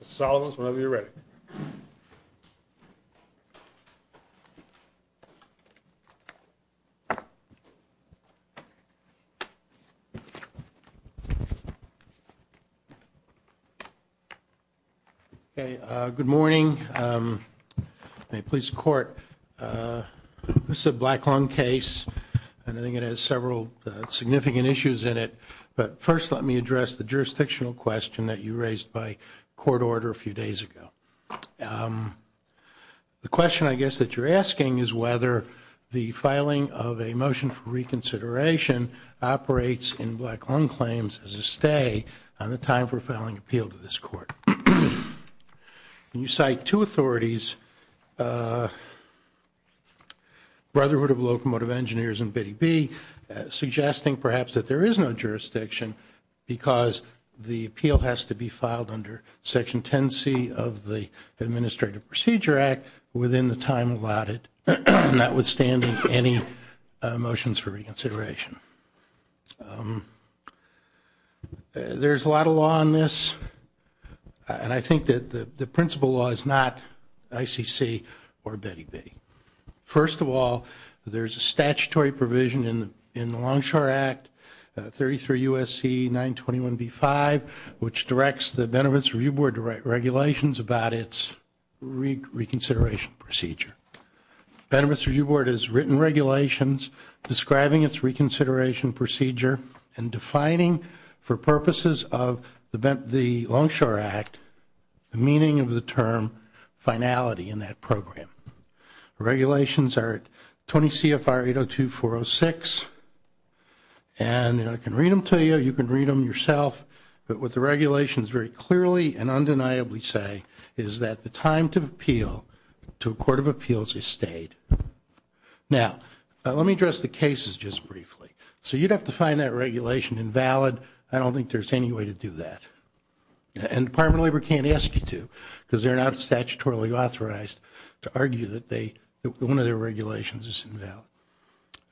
Mr. Solomons, whenever you're ready. Good morning. Police Court. This is a black lung case, and I think it has several significant issues in it. But first, let me address the jurisdictional question that you raised by court order a few days ago. The question, I guess, that you're asking is whether the filing of a motion for reconsideration operates in black lung claims as a stay on the time for filing appeal to this court. You cite two authorities, Brotherhood of Locomotive Engineers and BIDI-B, suggesting perhaps that there is no jurisdiction because the appeal has to be filed under Section 10C of the Administrative Procedure Act within the time allotted, notwithstanding any motions for reconsideration. There's a lot of law on this, and I think that the principal law is not ICC or BIDI-B. First of all, there's a statutory provision in the Longshore Act, 33 U.S.C. 921b-5, which directs the Benefits Review Board to write regulations about its reconsideration procedure. Benefits Review Board has written regulations describing its reconsideration procedure and defining, for purposes of the Longshore Act, the meaning of the term finality in that program. The regulations are at 20 CFR 802-406, and I can read them to you, you can read them yourself. But what the regulations very clearly and undeniably say is that the time to appeal to a court of appeals is stayed. Now, let me address the cases just briefly. So you'd have to find that regulation invalid. I don't think there's any way to do that. And Department of Labor can't ask you to, because they're not statutorily authorized to argue that one of their regulations is invalid.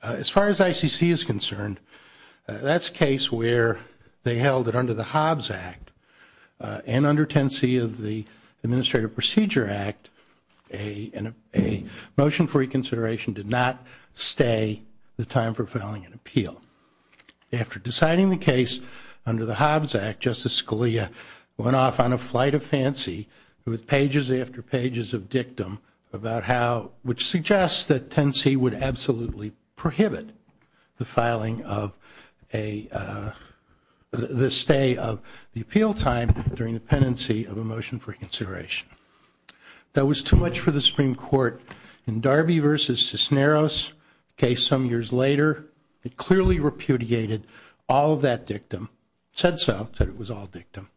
As far as ICC is concerned, that's a case where they held it under the Hobbs Act. And under 10C of the Administrative Procedure Act, a motion for reconsideration did not stay the time for filing an appeal. After deciding the case under the Hobbs Act, Justice Scalia went off on a flight of fancy with pages after pages of dictum about how, which suggests that 10C would absolutely prohibit the filing of a, the stay of the appeal time during the pendency of a motion for reconsideration. That was too much for the Supreme Court. In Darby v. Cisneros case some years later, it clearly repudiated all of that dictum, said so, said it was all dictum,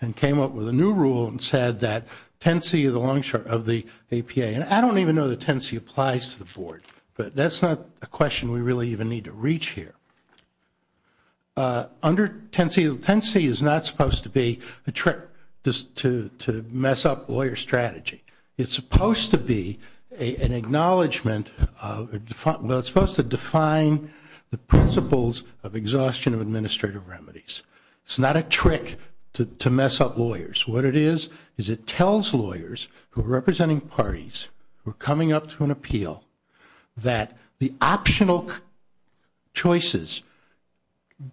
and came up with a new rule and said that 10C of the APA, and I don't even know that 10C applies to the board, but that's not a question we really even need to reach here. Under 10C, 10C is not supposed to be a trick to mess up lawyer strategy. It's supposed to be an acknowledgment of, well, it's supposed to define the principles of exhaustion of administrative remedies. It's not a trick to mess up lawyers. What it is is it tells lawyers who are representing parties who are coming up to an appeal that the optional choices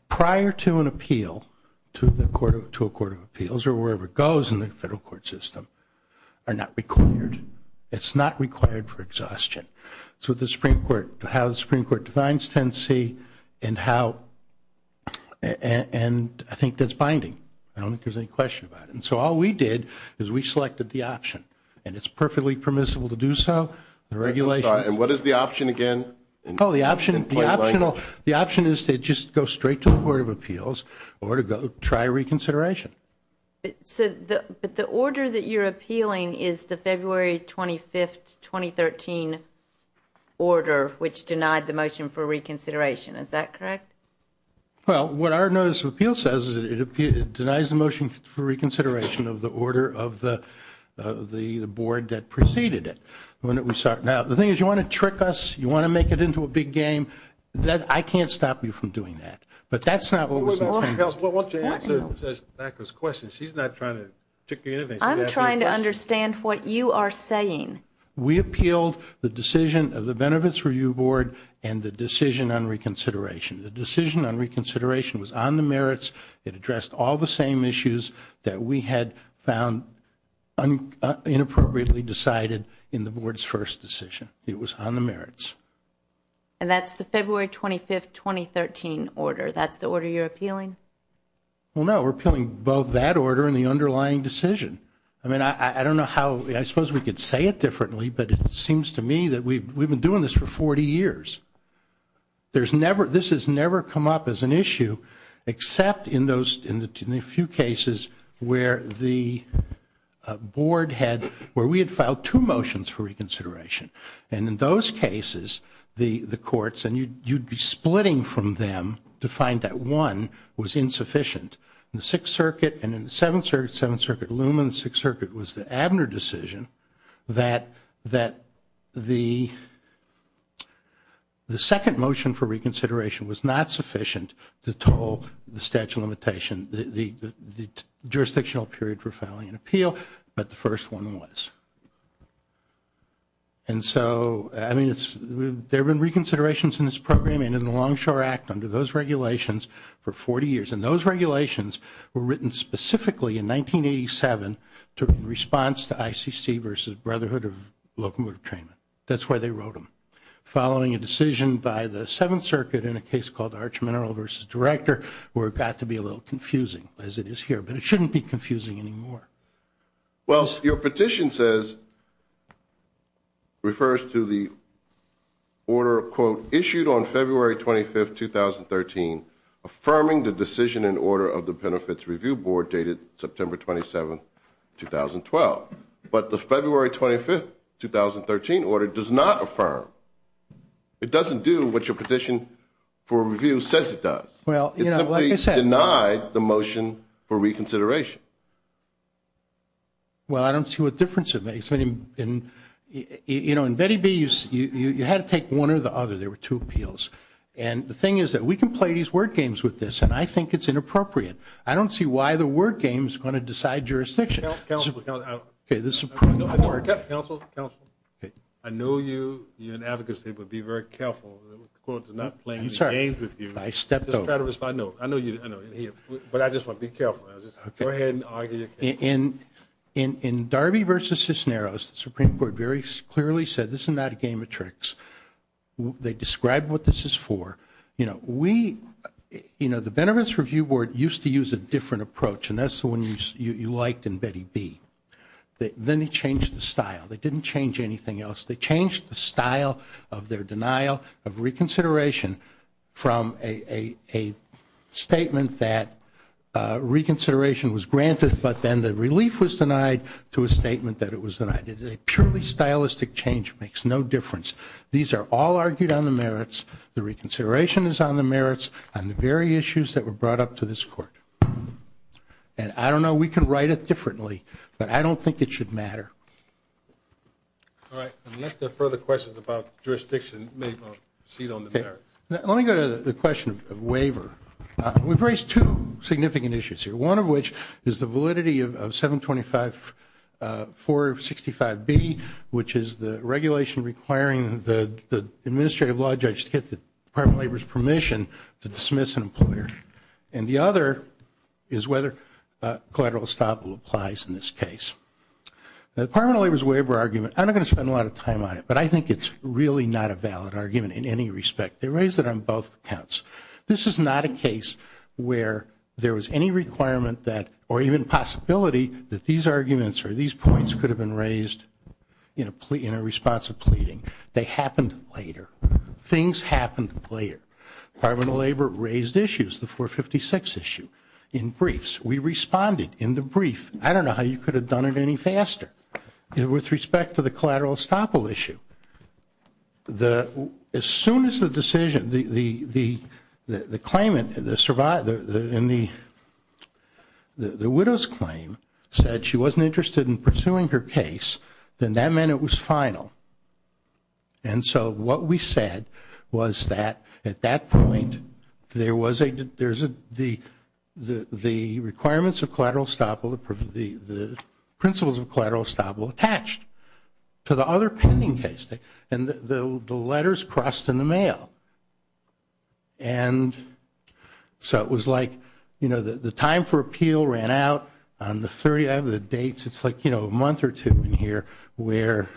prior to an appeal, to a court of appeals or wherever it goes in the federal court system, are not required. It's not required for exhaustion. So the Supreme Court, how the Supreme Court defines 10C and how, and I think that's binding. I don't think there's any question about it. And so all we did is we selected the option, and it's perfectly permissible to do so. The regulation. And what is the option again? Oh, the option is to just go straight to the court of appeals or to try reconsideration. But the order that you're appealing is the February 25th, 2013 order, which denied the motion for reconsideration. Is that correct? Well, what our notice of appeal says is it denies the motion for reconsideration of the order of the board that preceded it. Now, the thing is you want to trick us, you want to make it into a big game. I can't stop you from doing that. But that's not what we're saying. Wait a minute, counsel. Why don't you answer NACLA's question? She's not trying to trick you into anything. I'm trying to understand what you are saying. We appealed the decision of the Benefits Review Board and the decision on reconsideration. The decision on reconsideration was on the merits. It addressed all the same issues that we had found inappropriately decided in the board's first decision. It was on the merits. And that's the February 25th, 2013 order. That's the order you're appealing? Well, no. We're appealing both that order and the underlying decision. I mean, I don't know how, I suppose we could say it differently, but it seems to me that we've been doing this for 40 years. This has never come up as an issue except in a few cases where the board had, where we had filed two motions for reconsideration. And in those cases, the courts, and you'd be splitting from them to find that one was insufficient. In the Sixth Circuit and in the Seventh Circuit, Seventh Circuit Loom and the Sixth Circuit, it was the Abner decision that the second motion for reconsideration was not sufficient to toll the statute of limitations, the jurisdictional period for filing an appeal, but the first one was. And so, I mean, there have been reconsiderations in this program and in the Longshore Act under those regulations for 40 years. And those regulations were written specifically in 1987 in response to ICC versus Brotherhood of Locomotive Trainment. That's why they wrote them. Following a decision by the Seventh Circuit in a case called Arch Mineral versus Director, where it got to be a little confusing, as it is here, but it shouldn't be confusing anymore. Well, your petition says, refers to the order, quote, issued on February 25th, 2013, affirming the decision and order of the Benefits Review Board dated September 27th, 2012. But the February 25th, 2013 order does not affirm. It doesn't do what your petition for review says it does. It simply denied the motion for reconsideration. Well, I don't see what difference it makes. You know, in Betty B, you had to take one or the other. There were two appeals. And the thing is that we can play these word games with this, and I think it's inappropriate. I don't see why the word game is going to decide jurisdiction. Counsel, counsel, counsel. I know you're in advocacy, but be very careful. The court is not playing games with you. I stepped over. I know. But I just want to be careful. Go ahead and argue your case. In Darby versus Cisneros, the Supreme Court very clearly said this is not a game of tricks. They described what this is for. You know, the Benefits Review Board used to use a different approach, and that's the one you liked in Betty B. Then they changed the style. They didn't change anything else. They changed the style of their denial of reconsideration from a statement that reconsideration was granted, but then the relief was denied to a statement that it was denied. It's a purely stylistic change. It makes no difference. These are all argued on the merits. The reconsideration is on the merits on the very issues that were brought up to this court. And I don't know. We can write it differently, but I don't think it should matter. All right. Unless there are further questions about jurisdiction, maybe I'll proceed on the merits. Let me go to the question of waiver. We've raised two significant issues here, one of which is the validity of 725-465B, which is the regulation requiring the administrative law judge to get the Department of Labor's permission to dismiss an employer. And the other is whether collateral estoppel applies in this case. The Department of Labor's waiver argument, I'm not going to spend a lot of time on it, but I think it's really not a valid argument in any respect. They raised it on both accounts. This is not a case where there was any requirement that, or even possibility that these arguments or these points could have been raised in a response of pleading. They happened later. Things happened later. Department of Labor raised issues, the 456 issue, in briefs. We responded in the brief. I don't know how you could have done it any faster. With respect to the collateral estoppel issue, as soon as the decision, the claimant, the widow's claim said she wasn't interested in pursuing her case, then that meant it was final. And so what we said was that, at that point, there was a, the requirements of collateral estoppel, the principles of collateral estoppel, attached to the other pending case. And the letters crossed in the mail. And so it was like, you know, the time for appeal ran out on the 30th. I don't have the dates. It's like, you know, a month or two in here where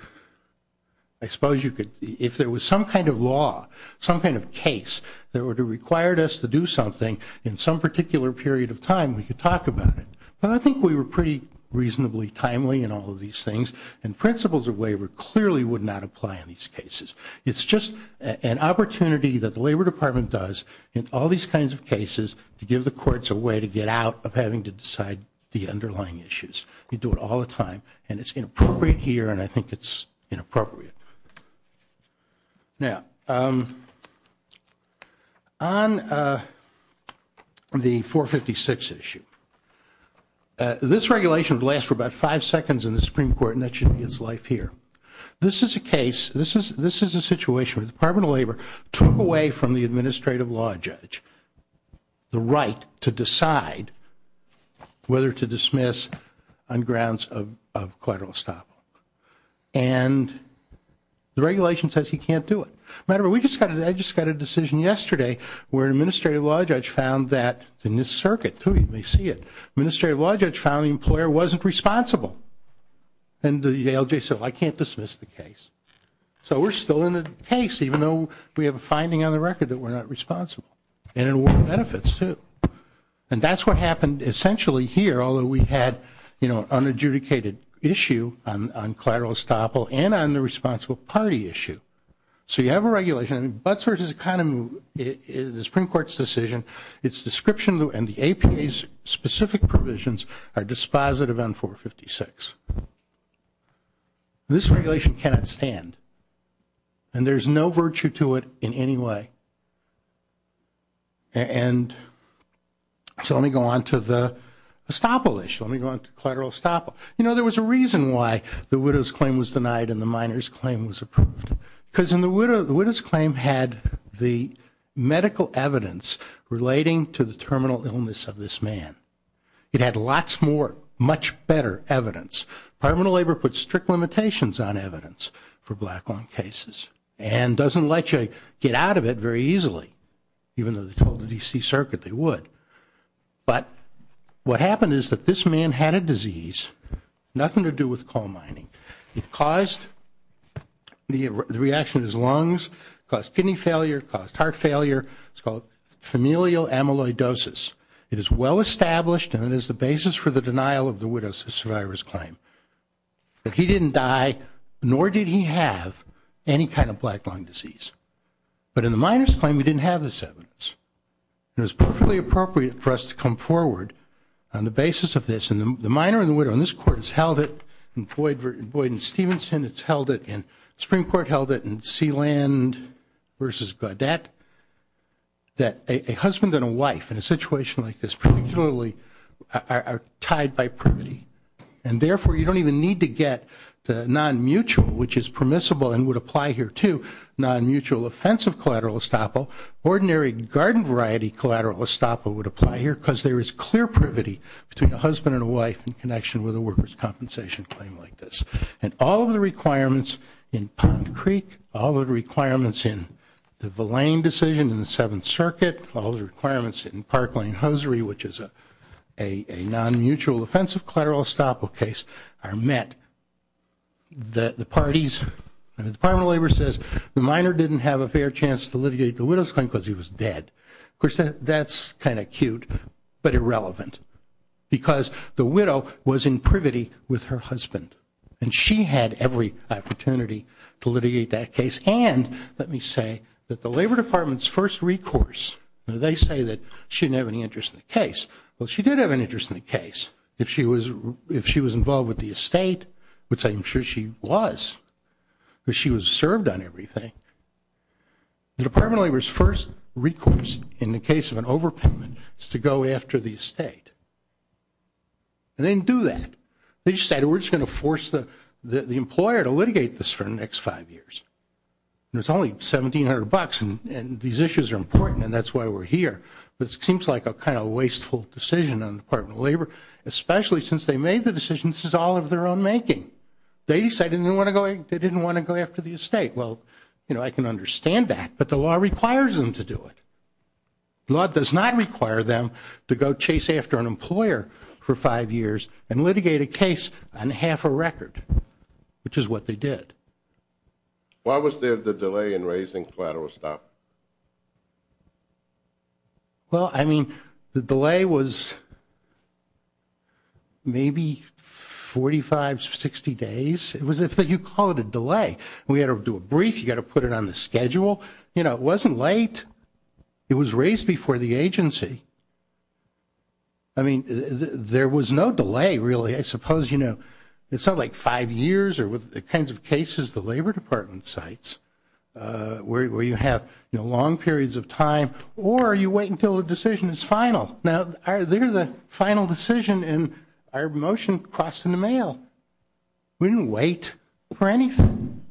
I suppose you could, if there was some kind of law, some kind of case, that would have required us to do something in some particular period of time, we could talk about it. But I think we were pretty reasonably timely in all of these things. And principles of waiver clearly would not apply in these cases. It's just an opportunity that the Labor Department does in all these kinds of cases to give the courts a way to get out of having to decide the underlying issues. We do it all the time. And it's inappropriate here, and I think it's inappropriate. Now, on the 456 issue, this regulation would last for about five seconds in the Supreme Court, and that should be its life here. This is a case, this is a situation where the Department of Labor took away from the the right to decide whether to dismiss on grounds of collateral estoppel. And the regulation says he can't do it. Remember, I just got a decision yesterday where an administrative law judge found that, in this circuit too, you may see it, an administrative law judge found the employer wasn't responsible. And the ALJ said, well, I can't dismiss the case. So we're still in a case, even though we have a finding on the record that we're not responsible. And it award benefits too. And that's what happened essentially here, although we had, you know, an adjudicated issue on collateral estoppel and on the responsible party issue. So you have a regulation, and Butts v. Economy, the Supreme Court's decision, its description and the APA's specific provisions are dispositive on 456. This regulation cannot stand. And there's no virtue to it in any way. And so let me go on to the estoppel issue. Let me go on to collateral estoppel. You know, there was a reason why the widow's claim was denied and the minor's claim was approved. Because the widow's claim had the medical evidence relating to the terminal illness of this man. It had lots more, much better evidence. Parliament of Labor put strict limitations on evidence for black lung cases. And doesn't let you get out of it very easily, even though they told the D.C. Circuit they would. But what happened is that this man had a disease, nothing to do with coal mining. It caused the reaction of his lungs, caused kidney failure, caused heart failure. It's called familial amyloidosis. It is well-established and it is the basis for the denial of the widow's claim. He didn't die, nor did he have any kind of black lung disease. But in the minor's claim, we didn't have this evidence. It was perfectly appropriate for us to come forward on the basis of this. And the minor and the widow in this court has held it. In Boyd v. Stevenson, it's held it. And the Supreme Court held it. In Sealand v. Gaudette, that a husband and a wife in a situation like this particularly are tied by privity. And therefore, you don't even need to get the non-mutual, which is permissible and would apply here too, non-mutual offensive collateral estoppel. Ordinary garden variety collateral estoppel would apply here because there is clear privity between a husband and a wife in connection with a worker's compensation claim like this. And all of the requirements in Pond Creek, all of the requirements in the Villain decision in the Seventh Circuit, all of the requirements in Park Lane Hosiery, which is a non-mutual offensive collateral estoppel case, are met. The parties, the Department of Labor says the minor didn't have a fair chance to litigate the widow's claim because he was dead. Of course, that's kind of cute but irrelevant because the widow was in privity with her husband. And she had every opportunity to litigate that case. And let me say that the Labor Department's first recourse, they say that she didn't have any interest in the case. Well, she did have an interest in the case if she was involved with the estate, which I'm sure she was, because she was served on everything. The Department of Labor's first recourse in the case of an overpayment is to go after the estate. They didn't do that. They just said, we're just going to force the employer to litigate this for the next five years. And it's only $1,700 and these issues are important and that's why we're here. But it seems like a kind of wasteful decision on the Department of Labor, especially since they made the decision, this is all of their own making. They decided they didn't want to go after the estate. Well, you know, I can understand that, but the law requires them to do it. The law does not require them to go chase after an employer for five years and litigate a case on half a record, which is what they did. Why was there the delay in raising collateral stop? Well, I mean, the delay was maybe 45, 60 days. You call it a delay. We had to do a brief, you got to put it on the schedule. You know, it wasn't late. It was raised before the agency. I mean, there was no delay, really. I suppose, you know, it's not like five years or the kinds of cases the Labor Department cites where you have long periods of time or you wait until a decision is final. Now, they're the final decision and our motion crossed in the mail. We didn't wait for anything.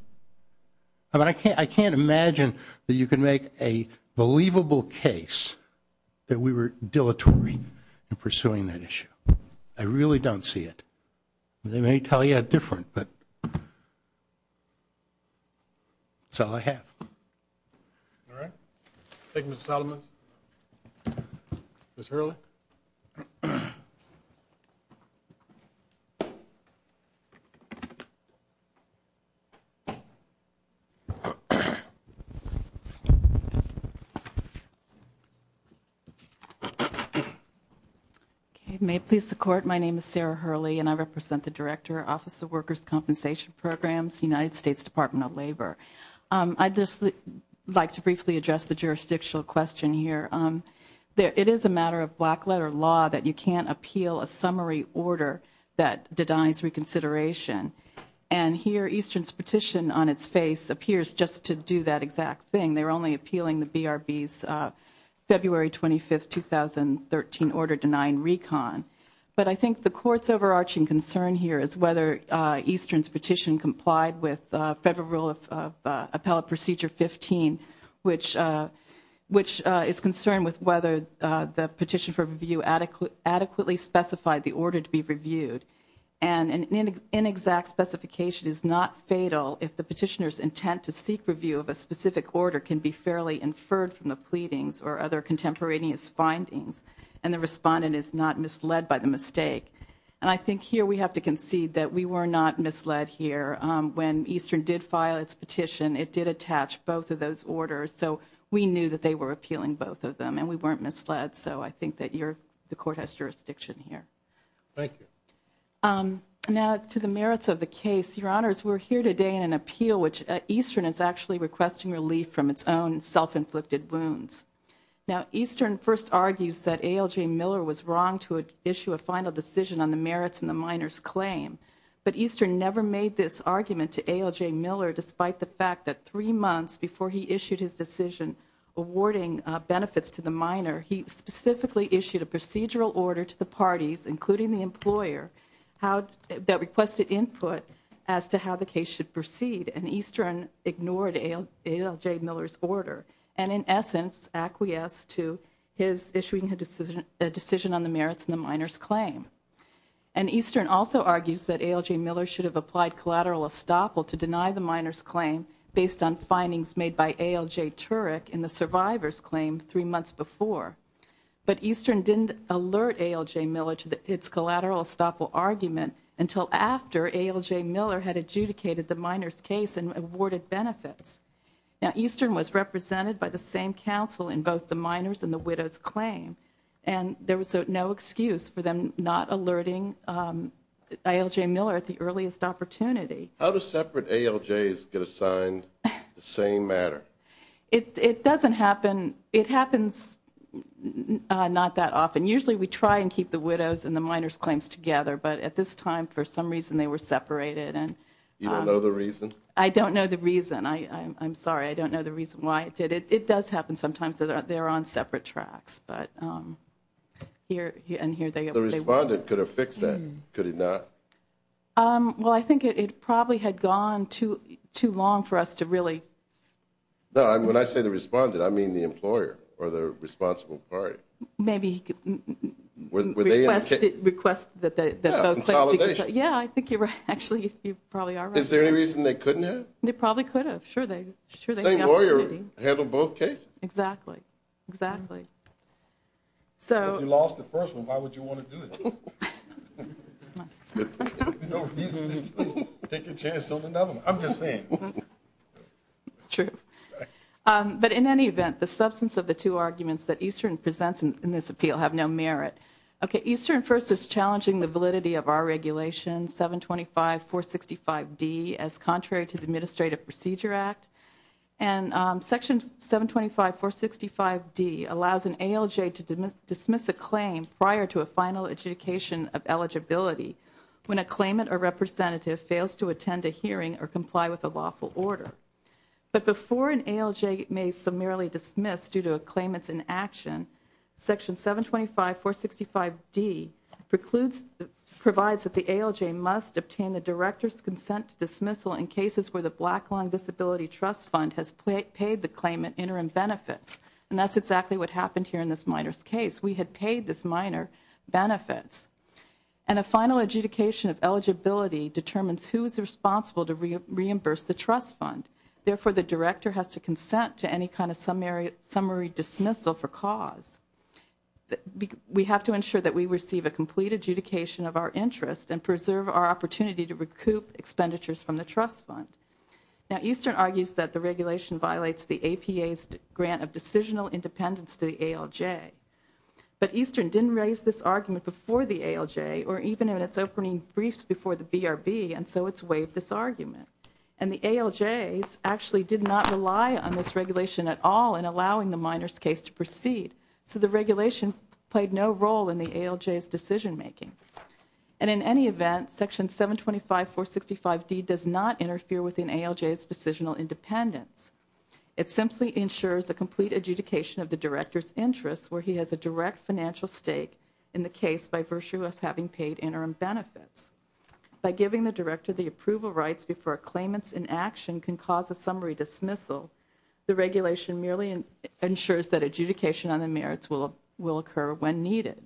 I mean, I can't imagine that you can make a believable case that we were dilatory in pursuing that issue. I really don't see it. They may tell you it's different, but that's all I have. All right. Thank you, Mr. Solomon. Ms. Hurley. Okay. May it please the Court, my name is Sarah Hurley, and I represent the Director, Office of Workers' Compensation Programs, United States Department of Labor. I'd just like to briefly address the jurisdictional question here. It is a matter of black-letter law that you can't appeal a summary order that denies reconsideration. And here Eastern's petition on its face appears just to do that exact thing. They're only appealing the BRB's February 25, 2013 order denying recon. But I think the Court's overarching concern here is whether Eastern's petition complied with Federal Rule of Appellate Procedure 15, which is concerned with whether the petition for review adequately specified the order to be reviewed. And an inexact specification is not fatal if the petitioner's intent to seek review of a specific order can be fairly inferred from the pleadings or other contemporaneous findings, and the respondent is not misled by the mistake. And I think here we have to concede that we were not misled here. When Eastern did file its petition, it did attach both of those orders, so we knew that they were appealing both of them, and we weren't misled. So I think that the Court has jurisdiction here. Thank you. Now, to the merits of the case, Your Honors, we're here today in an appeal which Eastern is actually requesting relief from its own self-inflicted wounds. Now, Eastern first argues that A.L.J. Miller was wrong to issue a final decision on the merits in the minor's claim, but Eastern never made this argument to A.L.J. Miller despite the fact that three months before he issued his decision awarding benefits to the minor, he specifically issued a procedural order to the parties, including the employer, that requested input as to how the case should proceed, and Eastern ignored A.L.J. Miller's order and, in essence, acquiesced to his issuing a decision on the merits in the minor's claim. And Eastern also argues that A.L.J. Miller should have applied collateral estoppel to deny the minor's claim based on findings made by A.L.J. Turek in the survivor's claim three months before. But Eastern didn't alert A.L.J. Miller to its collateral estoppel argument until after A.L.J. Miller had adjudicated the minor's case and awarded benefits. Now, Eastern was represented by the same counsel in both the minor's and the widow's claim, and there was no excuse for them not alerting A.L.J. Miller at the earliest opportunity. How do separate A.L.J.'s get assigned the same matter? It doesn't happen. It happens not that often. Usually we try and keep the widow's and the minor's claims together, but at this time, for some reason, they were separated. You don't know the reason? I don't know the reason. I'm sorry. I don't know the reason why it did. It does happen sometimes that they're on separate tracks, and here they were. The respondent could have fixed that, could he not? Well, I think it probably had gone too long for us to really. No, when I say the respondent, I mean the employer or the responsible party. Maybe request that both claims be fixed. Yeah, consolidation. Yeah, I think you're right. Actually, you probably are right. Is there any reason they couldn't have? They probably could have. Sure, they had the opportunity. Same lawyer handled both cases. Exactly, exactly. If you lost the first one, why would you want to do it? Take your chance on another one. I'm just saying. It's true. But in any event, the substance of the two arguments that Eastern presents in this appeal have no merit. Okay, Eastern first is challenging the validity of our regulation 725465D as contrary to the Administrative Procedure Act, and Section 725465D allows an ALJ to dismiss a claim prior to a final adjudication of eligibility when a claimant or representative fails to attend a hearing or comply with a lawful order. But before an ALJ may summarily dismiss due to a claimant's inaction, Section 725465D provides that the ALJ must obtain the Director's consent to dismissal in cases where the Black Long Disability Trust Fund has paid the claimant interim benefits. And that's exactly what happened here in this minor's case. We had paid this minor benefits. And a final adjudication of eligibility determines who is responsible to reimburse the trust fund. Therefore, the Director has to consent to any kind of summary dismissal for cause. We have to ensure that we receive a complete adjudication of our interest and preserve our opportunity to recoup expenditures from the trust fund. Now, Eastern argues that the regulation violates the APA's grant of decisional independence to the ALJ. But Eastern didn't raise this argument before the ALJ or even in its opening brief before the BRB, and so it's waived this argument. And the ALJs actually did not rely on this regulation at all in allowing the minor's case to proceed. So the regulation played no role in the ALJ's decision-making. And in any event, Section 725465D does not interfere within ALJ's decisional independence. It simply ensures a complete adjudication of the Director's interest where he has a direct financial stake in the case by virtue of having paid interim benefits. By giving the Director the approval rights before a claimant's inaction can cause a summary dismissal, the regulation merely ensures that adjudication on the merits will occur when needed.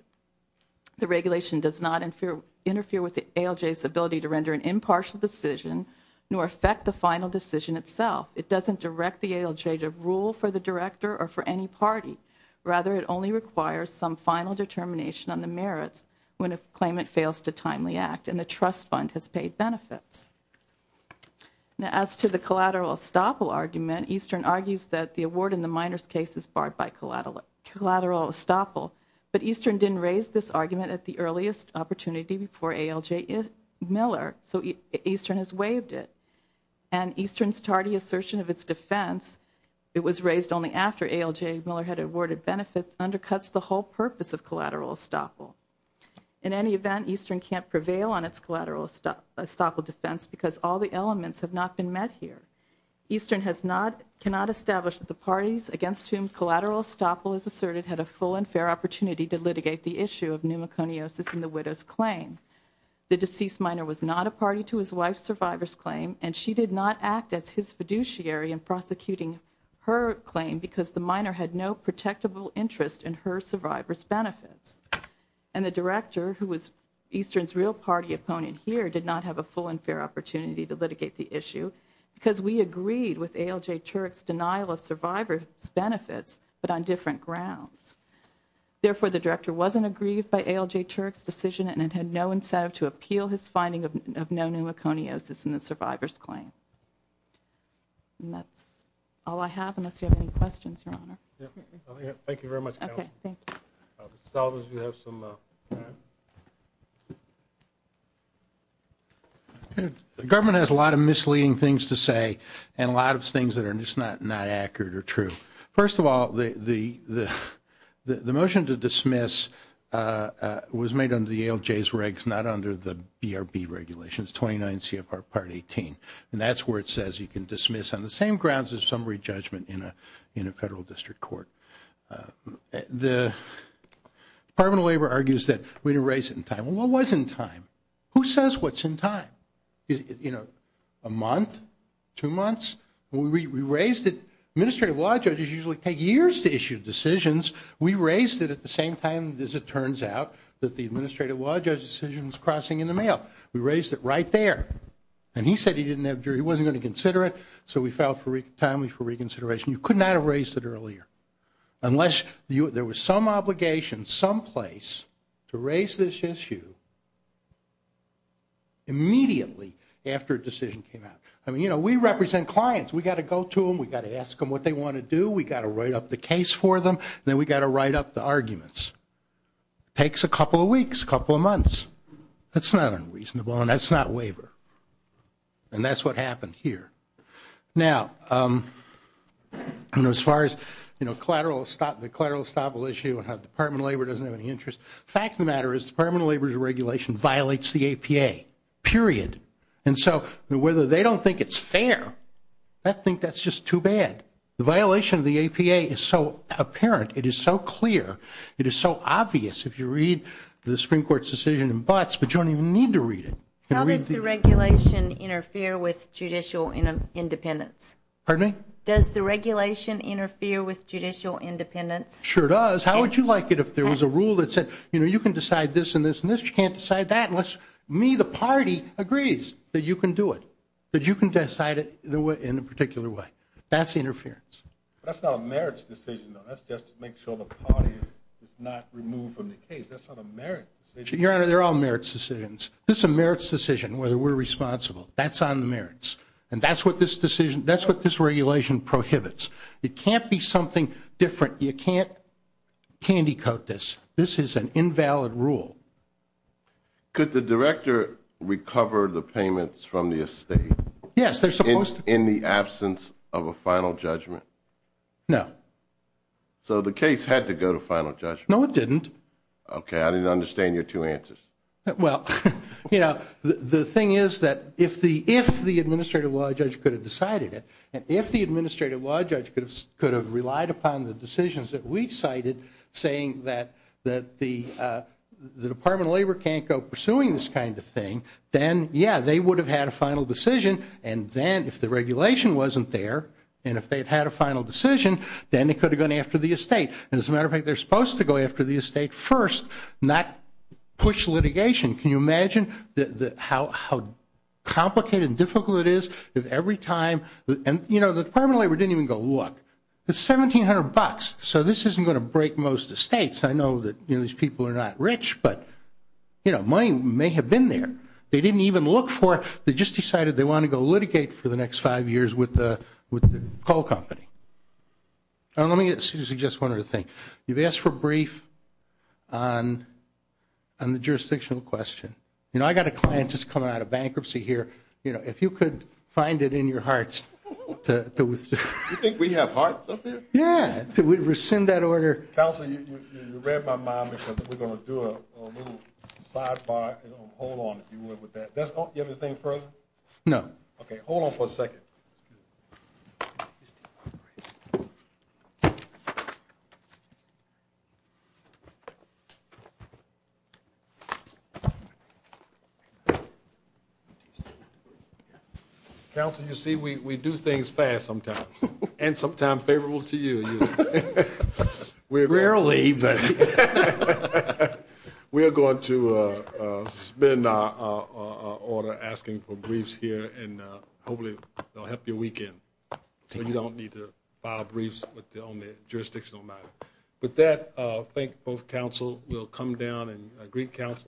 The regulation does not interfere with the ALJ's ability to render an impartial decision nor affect the final decision itself. It doesn't direct the ALJ to rule for the Director or for any party. Rather, it only requires some final determination on the merits when a claimant fails to timely act, and the trust fund has paid benefits. Now, as to the collateral estoppel argument, Eastern argues that the award in the minor's case is barred by collateral estoppel. But Eastern didn't raise this argument at the earliest opportunity before ALJ Miller, so Eastern has waived it. And Eastern's tardy assertion of its defense, it was raised only after ALJ Miller had awarded benefits, undercuts the whole purpose of collateral estoppel. In any event, Eastern can't prevail on its collateral estoppel defense because all the elements have not been met here. Eastern cannot establish that the parties against whom collateral estoppel is asserted had a full and fair opportunity to litigate the issue of pneumoconiosis in the widow's claim. The deceased minor was not a party to his wife's survivor's claim, and she did not act as his fiduciary in prosecuting her claim because the minor had no protectable interest in her survivor's benefits. And the Director, who was Eastern's real party opponent here, did not have a full and fair opportunity to litigate the issue because we agreed with ALJ Turek's denial of survivor's benefits, but on different grounds. Therefore, the Director wasn't aggrieved by ALJ Turek's decision and had no incentive to appeal his finding of no pneumoconiosis in the survivor's claim. And that's all I have, unless you have any questions, Your Honor. Thank you very much, Counsel. The government has a lot of misleading things to say and a lot of things that are just not accurate or true. First of all, the motion to dismiss was made under the ALJ's regs, not under the BRB regulations, 29 CFR Part 18. And that's where it says you can dismiss on the same grounds as summary judgment in a Federal District Court. The Department of Labor argues that we didn't raise it in time. Well, what was in time? Who says what's in time? You know, a month? Two months? We raised it. Administrative law judges usually take years to issue decisions. We raised it at the same time, as it turns out, that the administrative law judge's decision was crossing in the mail. We raised it right there. And he said he didn't have jury. He wasn't going to consider it. So we filed it timely for reconsideration. You could not have raised it earlier, unless there was some obligation someplace to raise this issue immediately after a decision came out. I mean, you know, we represent clients. We've got to go to them. We've got to ask them what they want to do. We've got to write up the case for them. Then we've got to write up the arguments. It takes a couple of weeks, a couple of months. That's not unreasonable, and that's not waiver. And that's what happened here. Now, as far as, you know, the collateral estoppel issue and how the Department of Labor doesn't have any interest, the fact of the matter is the Department of Labor's regulation violates the APA, period. And so whether they don't think it's fair, I think that's just too bad. The violation of the APA is so apparent, it is so clear, it is so obvious if you read the Supreme Court's decision in Butts, but you don't even need to read it. How does the regulation interfere with judicial independence? Pardon me? Does the regulation interfere with judicial independence? Sure does. How would you like it if there was a rule that said, you know, you can decide this and this and this, but you can't decide that unless me, the party, agrees that you can do it, that you can decide it in a particular way. That's interference. That's not a merits decision, though. That's just to make sure the party is not removed from the case. That's not a merits decision. Your Honor, they're all merits decisions. This is a merits decision, whether we're responsible. That's on the merits, and that's what this regulation prohibits. It can't be something different. You can't candy coat this. This is an invalid rule. Could the director recover the payments from the estate? Yes, they're supposed to. In the absence of a final judgment? No. So the case had to go to final judgment. No, it didn't. Okay. I didn't understand your two answers. Well, you know, the thing is that if the administrative law judge could have decided it, and if the administrative law judge could have relied upon the Department of Labor can't go pursuing this kind of thing, then, yeah, they would have had a final decision. And then if the regulation wasn't there, and if they had had a final decision, then they could have gone after the estate. As a matter of fact, they're supposed to go after the estate first, not push litigation. Can you imagine how complicated and difficult it is if every time the Department of Labor didn't even go, look, it's $1,700, so this isn't going to break most estates. I know that these people are not rich, but, you know, money may have been there. They didn't even look for it. They just decided they wanted to go litigate for the next five years with the coal company. Let me suggest one other thing. You've asked for a brief on the jurisdictional question. You know, I've got a client that's coming out of bankruptcy here. You know, if you could find it in your hearts to withdraw. You think we have hearts up here? Yeah, to rescind that order. Counselor, you read my mind because we're going to do a little sidebar. Hold on, if you will, with that. You have anything further? No. Okay, hold on for a second. Counselor, you see, we do things fast sometimes, and sometimes favorable to you. Rarely. We are going to suspend our order asking for briefs here, and hopefully it will help your weekend so you don't need to file briefs on the jurisdictional matter. With that, I thank both counsel. We'll come down and greet counsel.